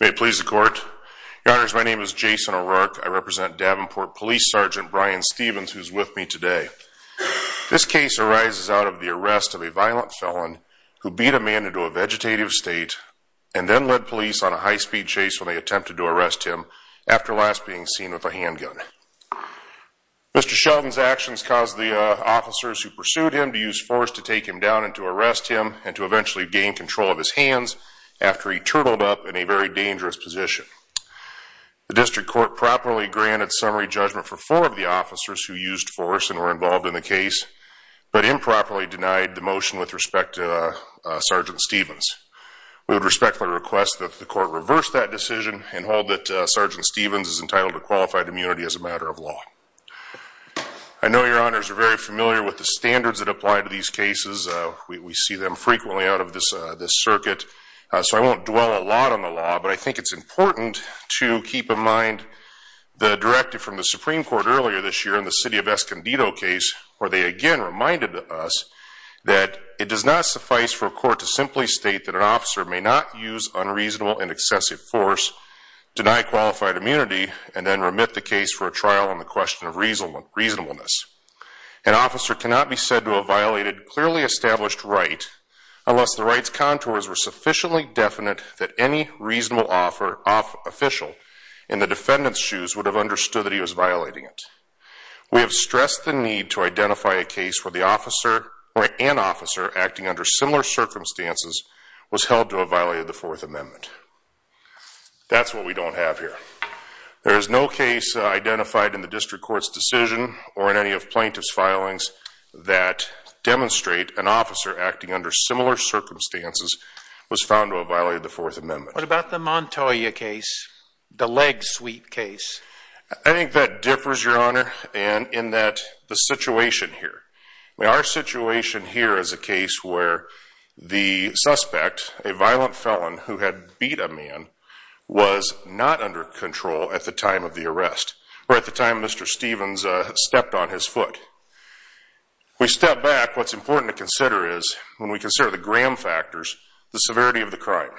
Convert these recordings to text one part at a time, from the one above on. May it please the court. Your honors, my name is Jason O'Rourke. I represent Davenport Police Sergeant Brian Stevens, who is with me today. This case arises out of the arrest of a violent felon who beat a man into a vegetative state and then led police on a high-speed chase when they attempted to arrest him, after last being seen with a handgun. Mr. Shelton's force to take him down and to arrest him and to eventually gain control of his hands after he turtled up in a very dangerous position. The district court properly granted summary judgment for four of the officers who used force and were involved in the case, but improperly denied the motion with respect to Sergeant Stevens. We would respectfully request that the court reverse that decision and hold that Sergeant Stevens is entitled to qualified immunity as a matter of law. I know your honors are very familiar with the standards that apply to these cases. We see them frequently out of this circuit, so I won't dwell a lot on the law, but I think it's important to keep in mind the directive from the Supreme Court earlier this year in the City of Escondido case, where they again reminded us that it does not suffice for a court to simply state that an officer may not use unreasonable and excessive force, deny qualified immunity, and then remit the case for a trial on the violated, clearly established right, unless the right's contours were sufficiently definite that any reasonable official in the defendant's shoes would have understood that he was violating it. We have stressed the need to identify a case where an officer acting under similar circumstances was held to have violated the Fourth Amendment. That's what we don't have here. There is no case identified in the district court's decision or in any of plaintiff's filings that demonstrate an officer acting under similar circumstances was found to have violated the Fourth Amendment. What about the Montoya case, the leg suite case? I think that differs, your honor, in that the situation here. Our situation here is a case where the suspect, a violent felon who had beat a man, was not under control at the time of the arrest, or at the time Mr. Stevens stepped on his foot. We step back, what's important to consider is, when we consider the Graham factors, the severity of the crime.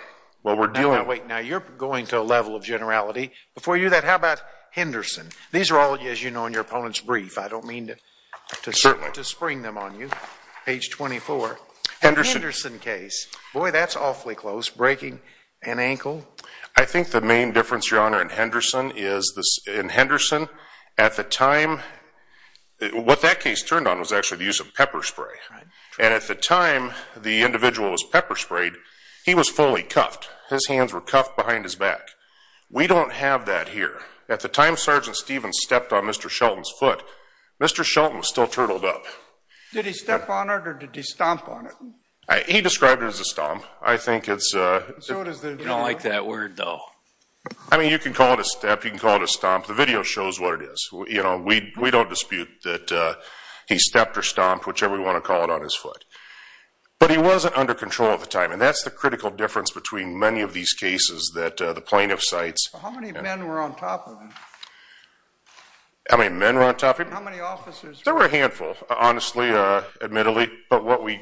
While we're dealing with... Now wait, now you're going to a level of generality. Before you do that, how about Henderson? These are all, as you know, in your opponent's brief. I don't mean to... Certainly. ...to spring them on you. Page 24. Henderson. The Henderson case, boy, that's awfully close, breaking an ankle. I think the main difference, your honor, in Henderson is, in Henderson, at the time, what that case turned on was actually the use of pepper spray. And at the time the individual was pepper sprayed, he was fully cuffed. His hands were cuffed behind his back. We don't have that here. At the time Sgt. Stevens stepped on Mr. Shelton's foot, Mr. Shelton was still turtled up. Did he step on it, or did he stomp on it? He described it as a stomp. I think it's... I don't like that word, though. I mean, you can call it a step, you can call it a stomp. The video shows what it is. We don't dispute that he stepped or stomped, whichever we want to call it, on his foot. But he wasn't under control at the time. And that's the critical difference between many of these cases that the plaintiff cites. How many men were on top of him? How many men were on top of him? How many officers? There were a handful, honestly, admittedly. But what we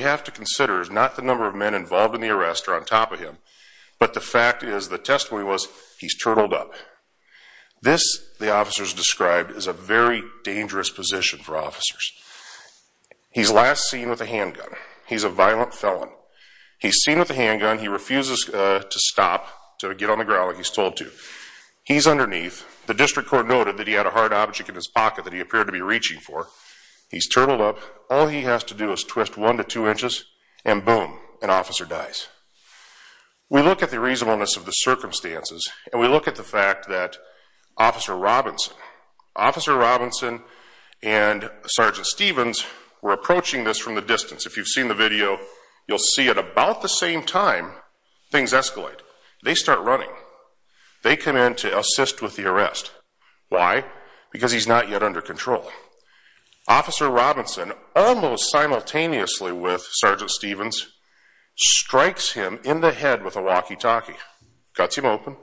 have to consider is not the number of men involved in the arrest or on top of him, but the fact is, the testimony was, he's turtled up. This, the officers described, is a very dangerous position for officers. He's last seen with a handgun. He's a violent felon. He's seen with a handgun. He refuses to stop, to get on the ground like he's told to. He's underneath. The district court noted that he had a hard object in his pocket that he appeared to be reaching for. He's turtled up. All he has to do is twist one to two inches, and boom, an officer dies. We look at the reasonableness of the circumstances, and we look at the fact that Officer Robinson, Officer Robinson and Sergeant Stevens were approaching this from the distance. If you've seen the video, you'll see at about the same time, things escalate. They start running. They come in to assist with the arrest. Why? Because he's not yet under control. Officer Robinson, almost simultaneously with Sergeant Stevens, strikes him in the head with a walkie-talkie, cuts him open,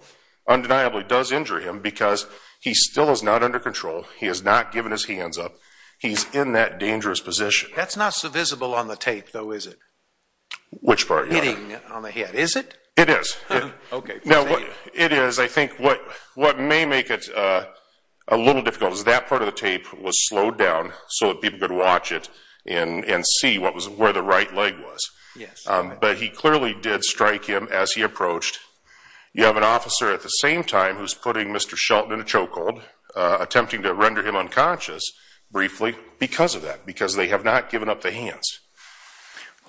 undeniably does injure him because he still is not under control. He has not given his hands up. He's in that dangerous position. That's not so visible on the tape, though, is it? Which part? Hitting on the head. Is it? It is. Okay. It is. I think what may make it a little difficult is that part of the tape was slowed down so that people could watch it and see where the right leg was. Yes. But he clearly did strike him as he approached. You have an officer at the same time who's putting Mr. Shelton in a chokehold, attempting to render him unconscious briefly because of that, because they have not given up the hands.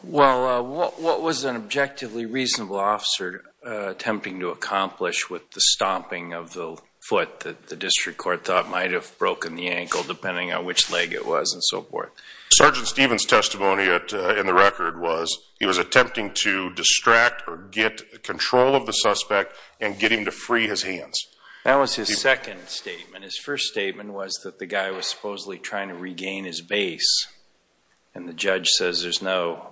Well, what was an objectively reasonable officer attempting to accomplish with the stomping of the foot that the district court thought might have broken the ankle, depending on which leg it was and so forth? Sergeant Stevens' testimony in the record was he was attempting to distract or get control of the suspect and get him to free his hands. That was his second statement. His first statement was that the guy was supposedly trying to regain his base, and the judge says there's no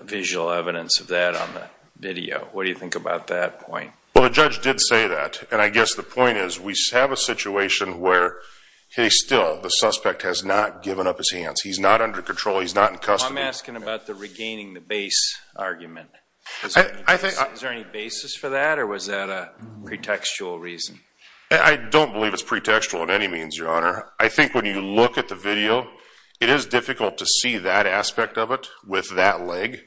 visual evidence of that on the video. What do you think about that point? Well, the judge did say that, and I guess the point is we have a situation where, hey, still, the suspect has not given up his hands. He's not under control. He's not in custody. I'm asking about the regaining the base argument. Is there any basis for that, or was that a pretextual reason? I don't believe it's pretextual in any means, Your Honor. I think when you look at the video, it is difficult to see that aspect of it with that leg.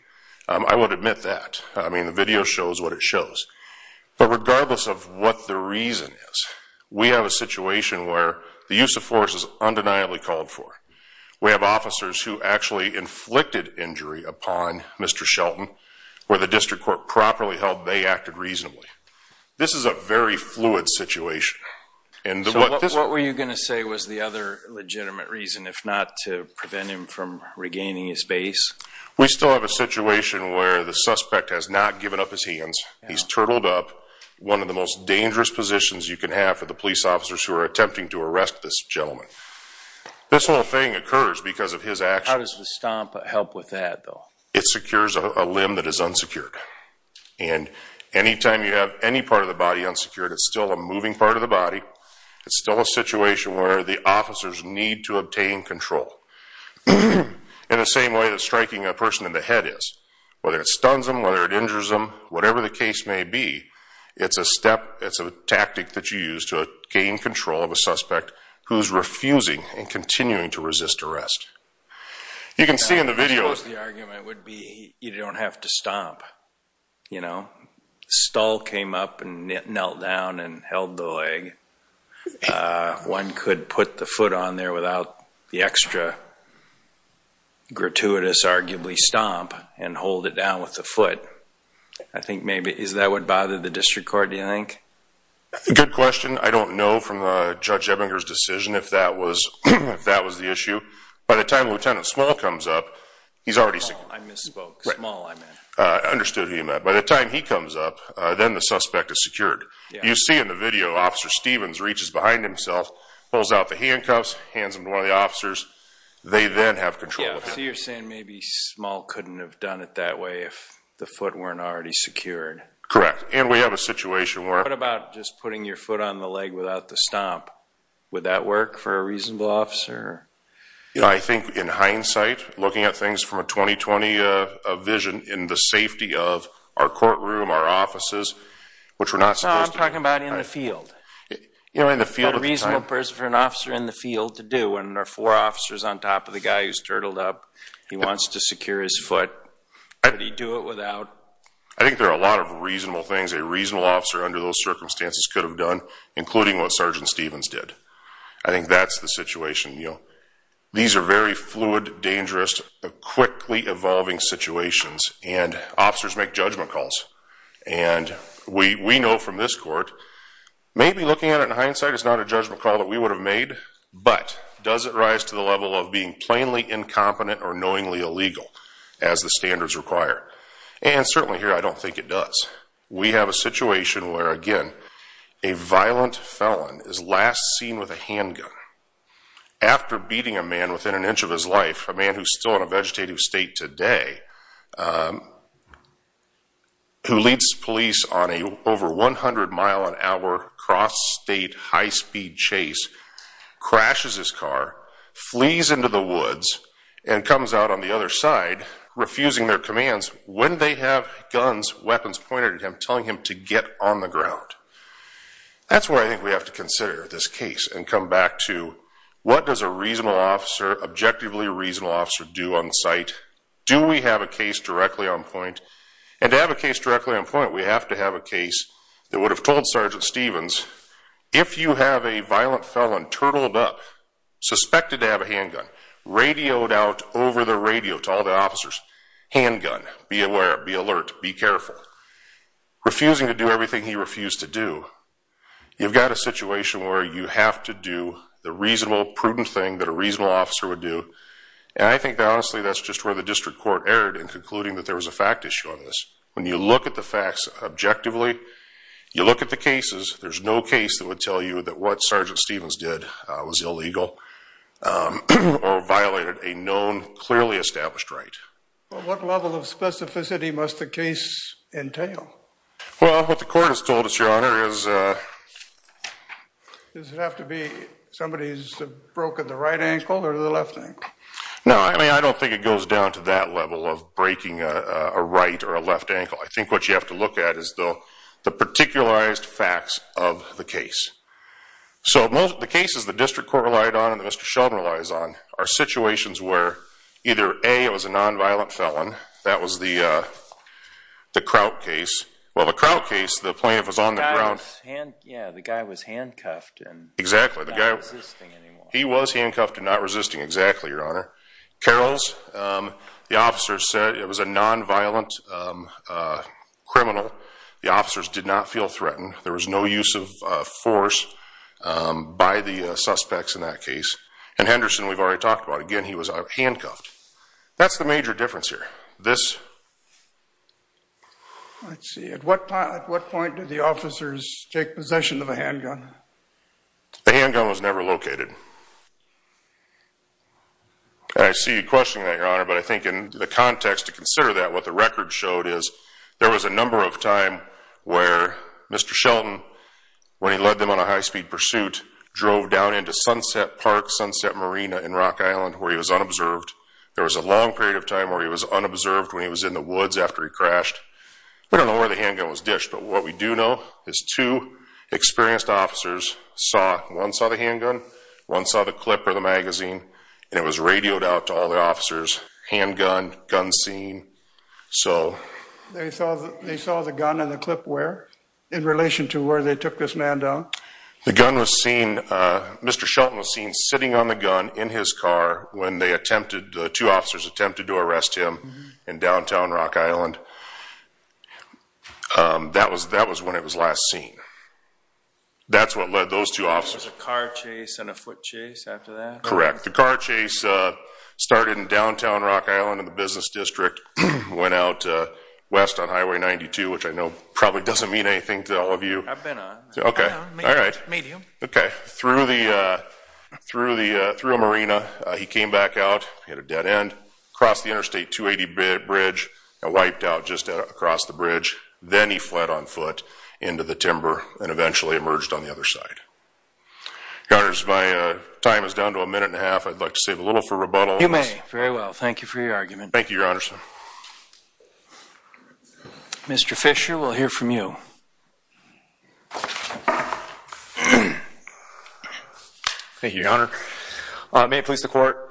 I would admit that. I mean, the But regardless of what the reason is, we have a situation where the use of force is undeniably called for. We have officers who actually inflicted injury upon Mr. Shelton, where the district court properly held they acted reasonably. This is a very fluid situation. So what were you going to say was the other legitimate reason, if not to prevent him from regaining his base? We still have a situation where the suspect has not given up his hands. He's turtled up. One of the most dangerous positions you can have for the police officers who are attempting to arrest this gentleman. This whole thing occurs because of his actions. How does the stomp help with that, though? It secures a limb that is unsecured. And any time you have any part of the body unsecured, it's still a moving part of the body. It's still a situation where the officers need to obtain control. In the same way that striking a person in the head is. Whether it stuns them, whether it injures them, whatever the case may be, it's a step, it's a tactic that you use to gain control of a suspect who's refusing and continuing to resist arrest. You can see in the video... I suppose the argument would be you don't have to stomp. You know? Stahl came up and the extra gratuitous, arguably, stomp and hold it down with the foot. I think maybe... Is that what bothered the district court, do you think? Good question. I don't know from Judge Ebbinger's decision if that was the issue. By the time Lieutenant Small comes up, he's already secured. Small, I misspoke. Small, I meant. Understood. By the time he comes up, then the suspect is secured. You see in the video Officer Stevens reaches behind himself, pulls out the handcuffs, hands them to one of the officers. They then have control of him. So you're saying maybe Small couldn't have done it that way if the foot weren't already secured? Correct. And we have a situation where... What about just putting your foot on the leg without the stomp? Would that work for a reasonable officer? I think in hindsight, looking at things from a 2020 vision in the safety of our courtroom, our offices, which we're not supposed to... You know, in the field at the time... What a reasonable person for an officer in the field to do when there are four officers on top of the guy who's turtled up. He wants to secure his foot. Could he do it without? I think there are a lot of reasonable things a reasonable officer under those circumstances could have done, including what Sergeant Stevens did. I think that's the situation. These are very fluid, dangerous, quickly evolving situations. And officers make judgment calls. And we know from this court, maybe looking at it in hindsight, it's not a judgment call that we would have made, but does it rise to the level of being plainly incompetent or knowingly illegal as the standards require? And certainly here, I don't think it does. We have a situation where, again, a violent felon is last seen with a handgun after beating a man within an inch of his life, a man who's still in a vegetative state today, who leads police on an over 100 mile an hour cross state high speed chase, crashes his car, flees into the woods, and comes out on the other side, refusing their commands when they have guns, weapons pointed at him, telling him to get on the ground. That's where I think we have to consider this case and come back to what does a reasonable officer, objectively reasonable officer, do on site? Do we have a case directly on point? And to have a case directly on point, we have to have a case that would have told Sergeant Stevens, if you have a violent felon turtled up, suspected to have a handgun, radioed out over the radio to all the officers, handgun, be aware, be alert, be careful, refusing to do everything he refused to do, you've got a situation where you have to do the reasonable, prudent thing that a reasonable officer would do. And I think, honestly, that's just where the district court erred in concluding that there was a fact issue on this. When you look at the facts objectively, you look at the cases, there's no case that would tell you that what Sergeant Stevens did was illegal or violated a known, clearly established right. Well, what level of specificity must the case entail? Well, what the court has told us, Your Honor, is... Does it have to be somebody who's broken the right ankle or the left ankle? No, I mean, I don't think it goes down to that level of breaking a right or a left ankle. I think what you have to look at is the particularized facts of the case. So the cases the district court relied on and that Mr. Sheldon relies on are situations where either A, it was a non-violent felon, that was the Kraut case. Well, the Kraut case, the plaintiff was on the ground... Yeah, the guy was handcuffed and not resisting anymore. Carrolls, the officers said it was a non-violent criminal. The officers did not feel threatened. There was no use of force by the suspects in that case. And Henderson, we've already talked about, again, he was handcuffed. That's the major difference here. This... Let's see, at what point did the officers take possession of a handgun? The handgun was never located. I see you questioning that, Your Honor, but I think in the context to consider that, what the record showed is there was a number of times where Mr. Sheldon, when he led them on a high-speed pursuit, drove down into Sunset Park, Sunset Marina in Rock Island where he was unobserved. There was a long period of time where he was unobserved when he was in the woods after he crashed. We don't know where the handgun was dished, but what we do know is two experienced officers saw, one saw the handgun, one saw the clip or the magazine, and it was radioed out to all the officers, handgun, gun scene. So... They saw the gun and the clip where? In relation to where they took this man down? The gun was seen, Mr. Sheldon was seen sitting on the gun in his car when they attempted, two officers attempted to arrest him in downtown Rock Island. That was when it was last seen. That's what led those two officers... There was a car chase and a foot chase after that? Correct. The car chase started in downtown Rock Island in the business district, went out west on Highway 92, which I know probably doesn't mean anything to all of you. I've been on. Okay. All right. Medium. Okay. Through a marina, he came back out, he had a dead end, crossed the interstate 280 bridge and wiped out just across the bridge. Then he fled on foot into the timber and eventually emerged on the other side. Your Honors, my time is down to a minute and a half. I'd like to save a little for rebuttals. You may. Very well. Thank you for your argument. Thank you, Your Honors. Mr. Fisher, we'll hear from you. Thank you, Your Honor. May it please the court.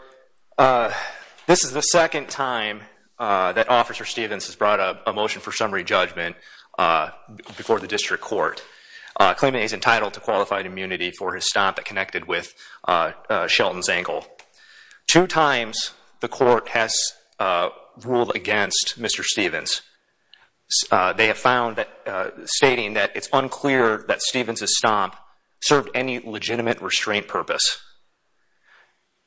This is the second time that Officer Stevens has brought up a motion for summary judgment before the district court, claiming he's entitled to qualified immunity for his stomp that connected with Shelton's ankle. Two times the court has stomp served any legitimate restraint purpose.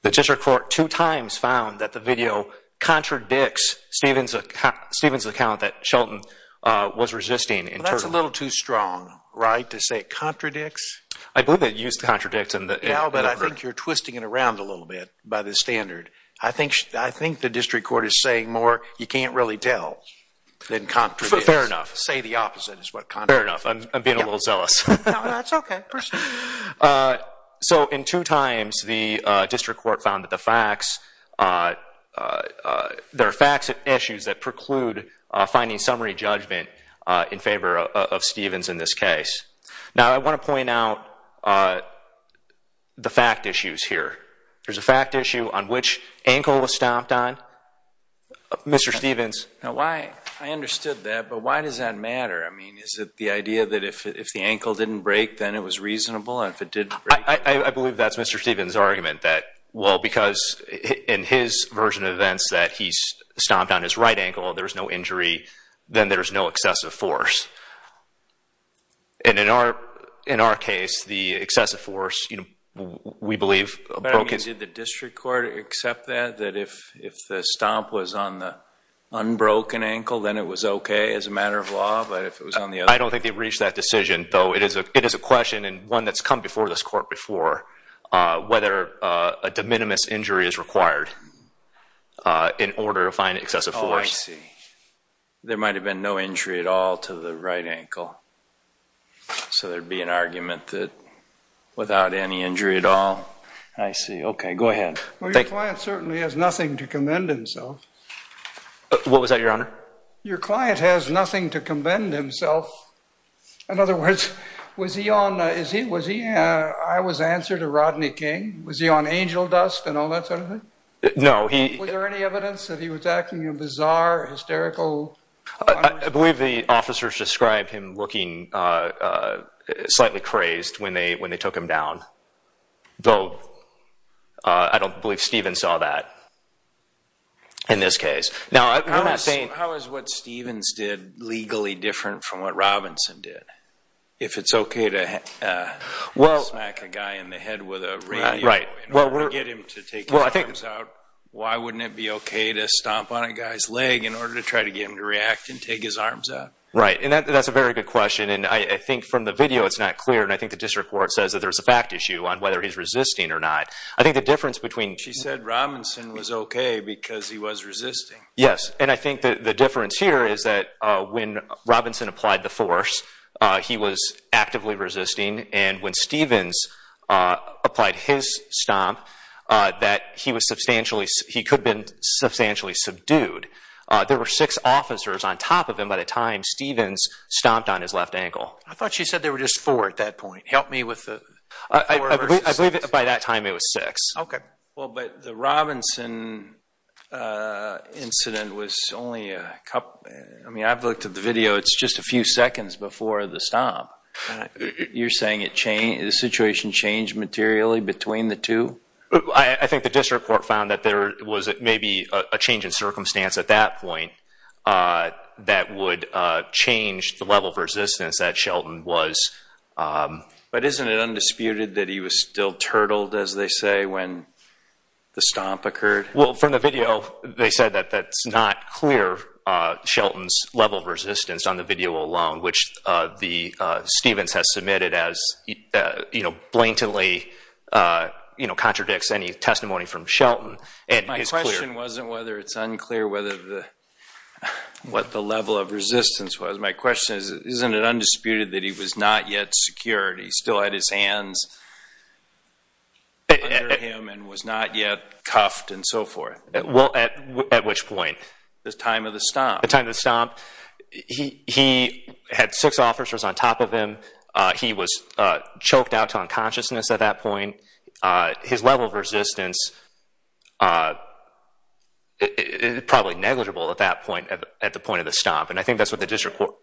The district court two times found that the video contradicts Stevens' account that Shelton was resisting. That's a little too strong, right, to say it contradicts? I believe it used contradicts. Yeah, but I think you're twisting it around a little bit by the standard. I think the district court is saying more you can't really tell than contradicts. Fair enough. Say the opposite is what contradicts. Fair enough. I'm a little jealous. That's okay. So in two times the district court found that the facts, there are facts and issues that preclude finding summary judgment in favor of Stevens in this case. Now, I want to point out the fact issues here. There's a fact issue on which ankle was stomped on. Mr. Stevens. Now, I understood that, but why does that matter? I mean, is it the idea that if the ankle didn't break, then it was reasonable? I believe that's Mr. Stevens' argument that, well, because in his version of events that he stomped on his right ankle, there's no injury, then there's no excessive force. And in our case, the excessive force, we believe- Did the district court accept that, that if the stomp was on the unbroken ankle, then it was okay as a matter of law, but if it was on the other- I don't think they've reached that decision, though it is a question and one that's come before this court before, whether a de minimis injury is required in order to find excessive force. Oh, I see. There might have been no injury at all to the right ankle. So there'd be an argument that without any injury at all. I see. Okay. Go ahead. Well, your client certainly has nothing to commend himself. What was that, Your Honor? Your client has nothing to commend himself. In other words, was he on- I was answered to Rodney King. Was he on angel dust and all that sort of thing? No, he- Was there any evidence that he was acting bizarre, hysterical? I believe the officers described him looking slightly crazed when they took him down, though I don't believe Stephen saw that in this case. Now, I'm not saying- How is what Stephen's did legally different from what Robinson did? If it's okay to smack a guy in the head with a radio and get him to take his arms out, why wouldn't it be okay to stomp on a guy's leg in order to try to get him to react and take his arms out? Right. And that's a very good question. And I think from the video, it's not clear, I think the district court says that there's a fact issue on whether he's resisting or not. I think the difference between- She said Robinson was okay because he was resisting. Yes. And I think that the difference here is that when Robinson applied the force, he was actively resisting. And when Stephens applied his stomp, that he could have been substantially subdued. There were six officers on top of him by the time Stephens stomped on his left ankle. I thought she said there were just four at that point. Help me with the- I believe by that time it was six. Okay. Well, but the Robinson incident was only a couple- I mean, I've looked at the video, it's just a few seconds before the stomp. You're saying the situation changed materially between the two? I think the district court found that there was maybe a change in circumstance at that point that would change the level of resistance that Shelton was- But isn't it undisputed that he was still turtled, as they say, when the stomp occurred? Well, from the video, they said that that's not clear, Shelton's level of resistance on the video alone, which Stephens has submitted as blatantly contradicts any testimony from Shelton. My question wasn't whether it's unclear what the level of resistance was. My question is, isn't it undisputed that he was not yet secured? He still had his hands under him and was not yet cuffed and so forth? Well, at which point? The time of the stomp. The time of the stomp. He had six officers on top of him. He was choked out to unconsciousness at that point. His level of resistance is probably negligible at that point, at the point of the stomp. And I think that's what the district court-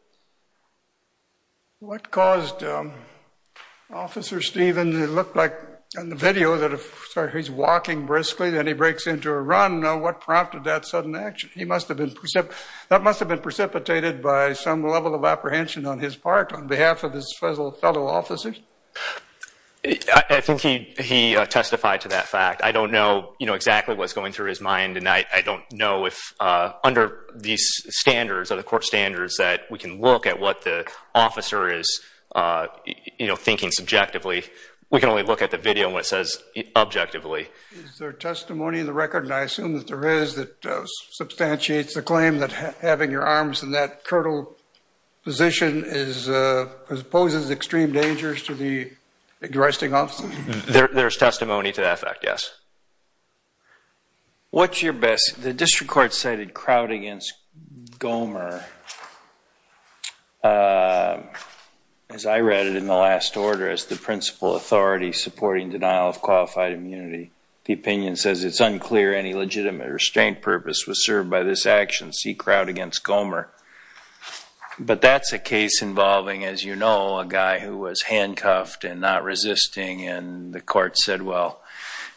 What caused Officer Stephens, it looked like on the video, that if he's walking briskly, then he breaks into a run, what prompted that sudden action? That must have been precipitated by some level of apprehension on his part, on behalf of his fellow officers? I think he testified to that fact. I don't know exactly what's going through his mind, and I don't know if under these standards, other court standards, that we can look at what the officer is thinking subjectively. We can only look at the video and what it says objectively. Is there testimony in the record, and I assume that there is, that substantiates the claim that having your arms in that curtail position proposes extreme dangers to the existing officer? There's testimony to that fact, yes. What's your best- The district court cited Kraut against Gomer, as I read it in the last order, as the principal authority supporting denial of qualified immunity. The opinion says it's unclear any legitimate restraint purpose was served by this action, C. Kraut against Gomer, but that's a case involving, as you know, a guy who was handcuffed and not resisting, and the court said, well,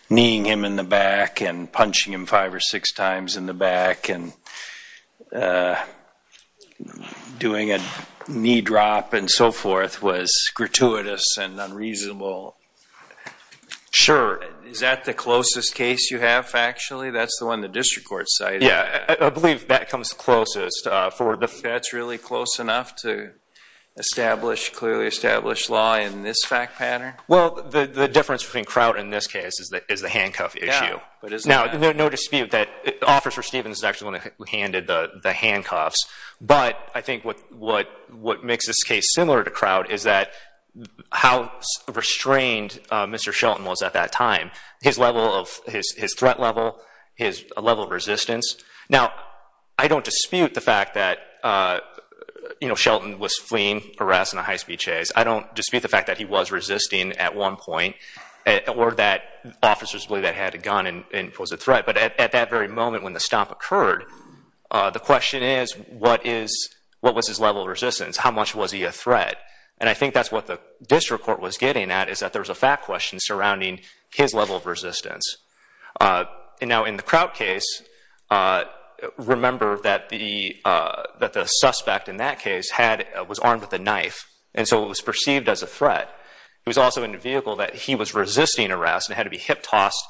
kneeing him in the back and punching him five or six times in the back and doing a knee drop and so forth was gratuitous and unreasonable. Sure. Is that the closest case you have, factually? That's the one the district court cited? Yeah, I believe that comes closest for the- That's really close enough to clearly establish law in this fact pattern? Well, the difference between Kraut in this case is the handcuff issue. Now, no dispute that Officer Stevens is actually the one who handed the handcuffs, but I think what makes this case similar to Kraut is how restrained Mr. Shelton was at that time, his threat level, his level of resistance. Now, I don't dispute the fact that Shelton was fleeing, harassed in a high-speed chase. I don't dispute the fact that he was resisting at one point or that officers believe that he had a gun and was a threat, but at that very moment when the stomp occurred, the question is, what was his level of resistance? How much was he a threat? And I think that's what the district court was getting at is that there was a fact question surrounding his level of resistance. Now, in the Kraut case, remember that the suspect in that case was armed with a knife, and so it was perceived as a threat. He was also in a vehicle that he was resisting harass and had to be hip-tossed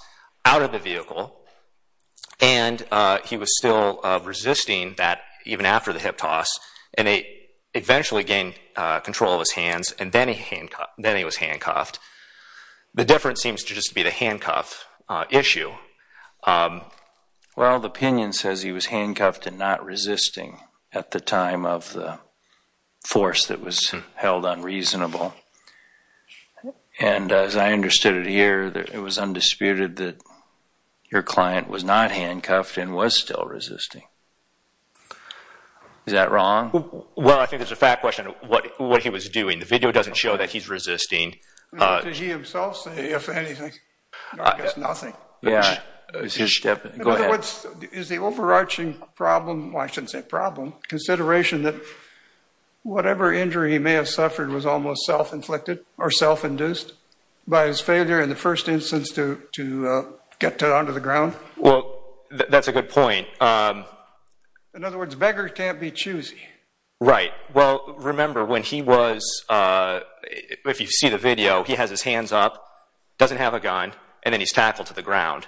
out of the vehicle, and he was still resisting that even after the hip-toss, and he eventually gained control of his hands, and then he was handcuffed. The difference seems to just be the handcuff issue. Well, the opinion says he was handcuffed and not resisting at the time of the force that was held unreasonable, and as I understood it here, it was undisputed that your client was not handcuffed and was still resisting. Is that wrong? Well, I think there's a fact question. What he was doing, the video doesn't show that he's resisting. Did he himself say, if anything, it's nothing? Yeah. Go ahead. In other words, is the overarching problem, well, I shouldn't say problem, consideration that whatever injury he may have suffered was almost self-inflicted or self-induced by his failure in the first instance to get onto the ground? Well, that's a good point. In other words, beggar can't be choosy. Right. Well, remember when he was, if you see the video, he has his hands up, doesn't have a gun, and then he's tackled to the ground.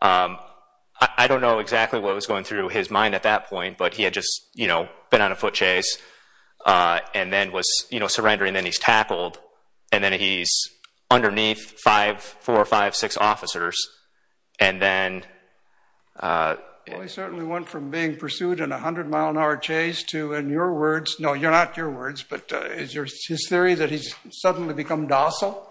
I don't know exactly what was going through his mind at that point, but he had just been on a foot chase and then was surrendering, then he's tackled, and then he's underneath four or five, six officers. Well, he certainly went from being pursued in a 100-mile-an-hour chase to, in your words, no, not your words, but is his theory that he's suddenly become docile?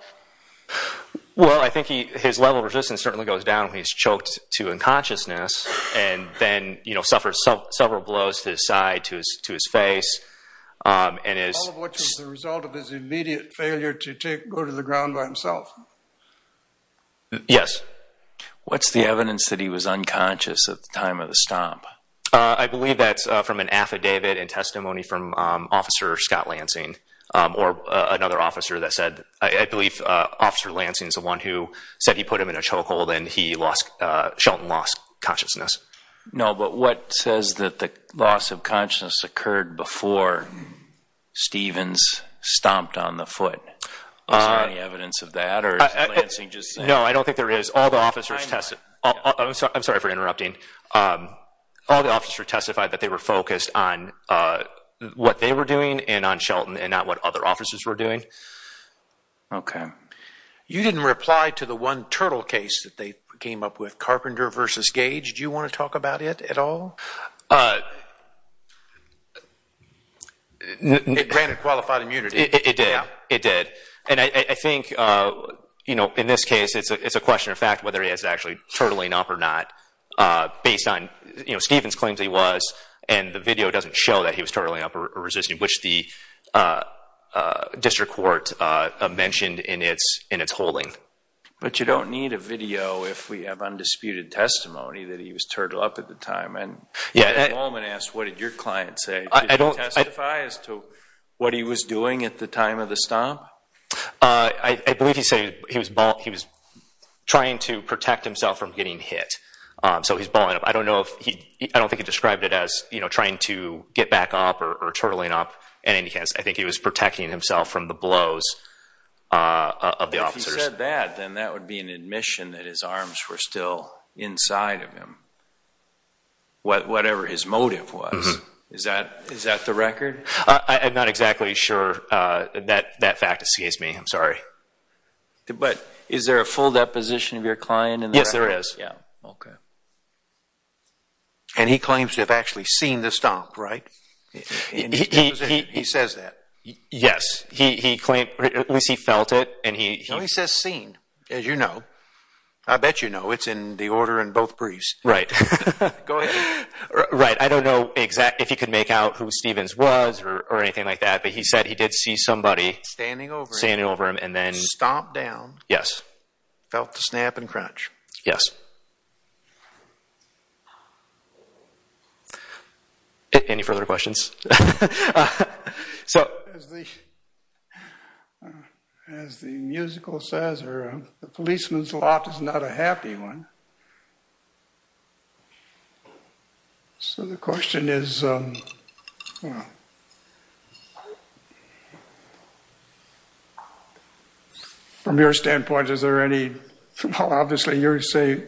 Well, I think his level of resistance certainly goes down when he's choked to unconsciousness and then suffers several blows to his side, to his face. All of which was the result of his immediate failure to go to the ground by himself. Yes. What's the evidence that he was unconscious at the time of the stomp? I believe that's from an affidavit and testimony from Officer Scott Lansing or another officer that said, I believe Officer Lansing is the one who said he put him in a chokehold and he lost, Shelton lost consciousness. No, but what says that the loss of consciousness occurred before Stevens stomped on the foot? Is there any evidence of that or is Lansing just saying? No, I don't think there is. All the officers tested, I'm sorry for interrupting. All the officers testified that they were focused on what they were doing and on Shelton and not what other officers were doing. Okay. You didn't reply to the one turtle case that they came up with, Carpenter versus Gage. Do you want to talk about it at all? It granted qualified immunity. It did. It did. And I think in this case, it's a question of fact whether he is actually turtling up or not based on Stevens claims he was and the video doesn't show that he was turtling up or resisting, which the district court mentioned in its holding. But you don't need a video if we have undisputed testimony that he was turtled up at the time. And yeah, Coleman asked, what did your client say? I don't testify as to what he was doing at the time of the stomp. I believe he said he was trying to protect himself from getting hit. So he's balling up. I don't know if he, I don't think he described it as, you know, trying to get back up or turtling up. And in any case, I think he was protecting himself from the would be an admission that his arms were still inside of him, whatever his motive was. Is that the record? I'm not exactly sure. That fact escapes me. I'm sorry. But is there a full deposition of your client? Yes, there is. Yeah. Okay. And he claims to have actually seen the As you know, I bet you know it's in the order in both briefs. Right. Right. I don't know exactly if he could make out who Stevens was or anything like that. But he said he did see somebody standing over him and then stomped down. Yes. Felt the snap and crunch. Yes. Okay. Any further questions? As the musical says, the policeman's lot is not a happy one. So the question is, well, from your standpoint, is there any, well, obviously you're saying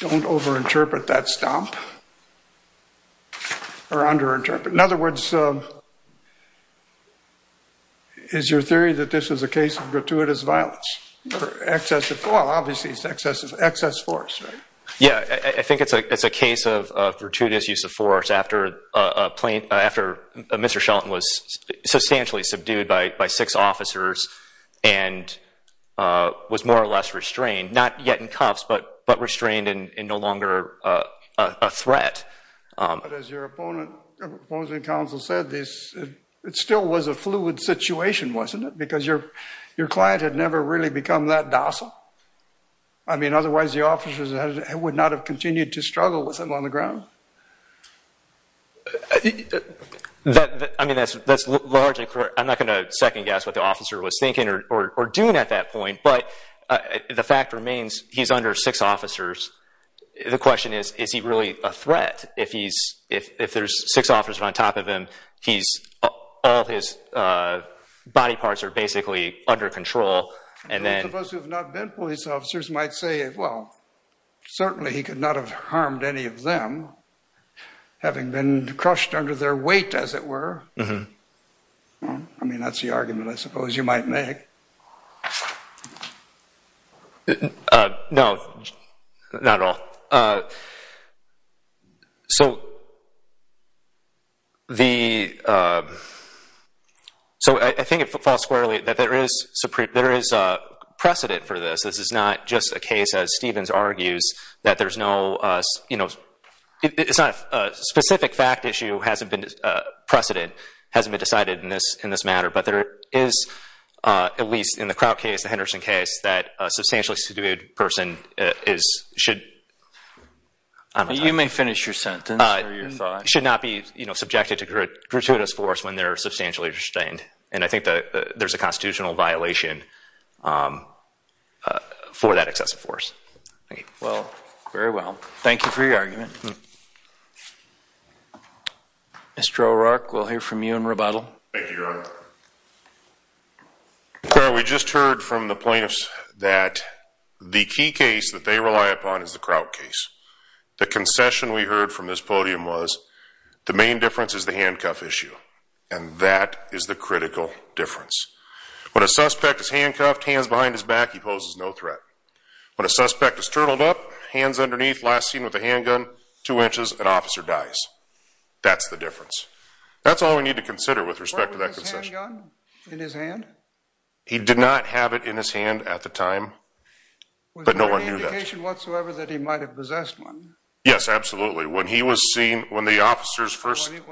don't over-interpret that stomp or under-interpret. In other words, is your theory that this is a case of gratuitous violence or excessive, well, obviously it's excessive, excess force, right? Yeah. I think it's a case of gratuitous use of after Mr. Shelton was substantially subdued by six officers and was more or less restrained, not yet in cuffs, but restrained and no longer a threat. But as your opponent, opposing counsel said this, it still was a fluid situation, wasn't it? Because your client had never really become that docile. I mean, otherwise the officers would not have continued to struggle with him on the ground. I mean, that's largely correct. I'm not going to second guess what the officer was thinking or doing at that point, but the fact remains he's under six officers. The question is, is he really a threat? If there's six officers on top of him, all his body parts are basically under control. And then those of us who have not been police officers might say, well, certainly he could not have harmed any of them having been crushed under their weight, as it were. I mean, that's the argument I suppose you might make. No, not at all. So I think it falls that there's no specific fact issue that hasn't been decided in this matter. But there is, at least in the Crout case, the Henderson case, that a substantially subdued person should not be subjected to gratuitous force when they're substantially restrained. And I think there's a constitutional violation for that excessive force. Well, very well. Thank you for your argument. Mr. O'Rourke, we'll hear from you in rebuttal. Thank you, Your Honor. We just heard from the plaintiffs that the key case that they rely upon is the Crout case. The concession we heard from this podium was the main difference is the When a suspect is handcuffed, hands behind his back, he poses no threat. When a suspect is turtled up, hands underneath, last seen with a handgun, two inches, an officer dies. That's the difference. That's all we need to consider with respect to that concession. Was there a handgun in his hand? He did not have it in his hand at the time, but no one knew that. Was there any indication whatsoever that he might have possessed one? Yes, absolutely. When he was seen, when the officers first... Did he have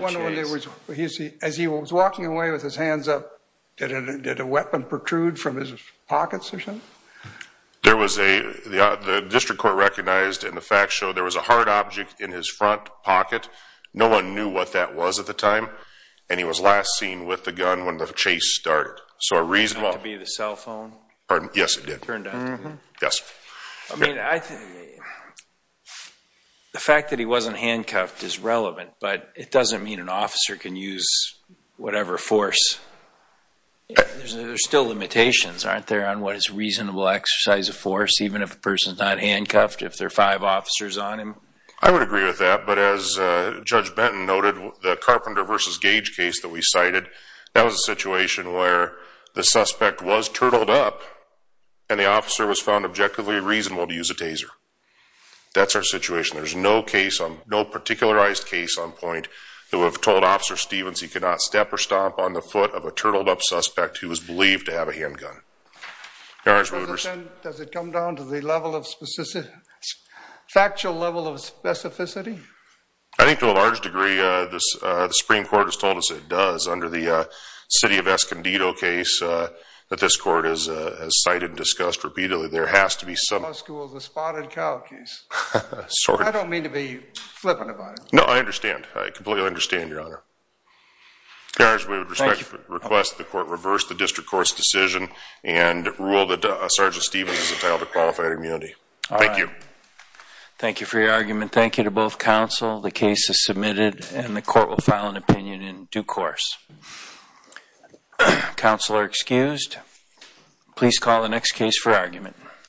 one? As he was walking away with his hands up, did a weapon protrude from his pockets or something? There was a... The district court recognized, and the facts show, there was a hard object in his front pocket. No one knew what that was at the time, and he was last seen with the gun when the chase started. So a reasonable... It turned out to be the cell phone? Pardon? Yes, it did. Yes. I mean, the fact that he wasn't handcuffed is relevant, but it doesn't mean an officer can use whatever force. There's still limitations, aren't there, on what is reasonable exercise of force, even if a person's not handcuffed, if there are five officers on him? I would agree with that, but as Judge Benton noted, the Carpenter versus Gage case that we cited, that was a situation where the suspect was turtled up and the officer was found objectively reasonable to use a taser. That's our situation. There's no case on... No particularized case on point that would have told Officer Stevens he could not step or stomp on the foot of a turtled up suspect who was believed to have a handgun. Your Honor's mooters. Does it come down to the level of specific... Factual level of specificity? I think to a large degree, the Supreme Court has told us it does. Under the city of Escondido case that this court has cited and discussed repeatedly, there has to be some... The law school's a spotted cow case. I don't mean to be flippant about it. No, I understand. I completely understand, Your Honor. Your Honor, we would respectfully request the court reverse the district court's decision and rule that Sergeant Stevens is entitled to qualified immunity. Thank you. Thank you for your argument. Thank you to both counsel. The case is submitted and the court will file an opinion in due course. Counsel are excused. Please call the next case for argument.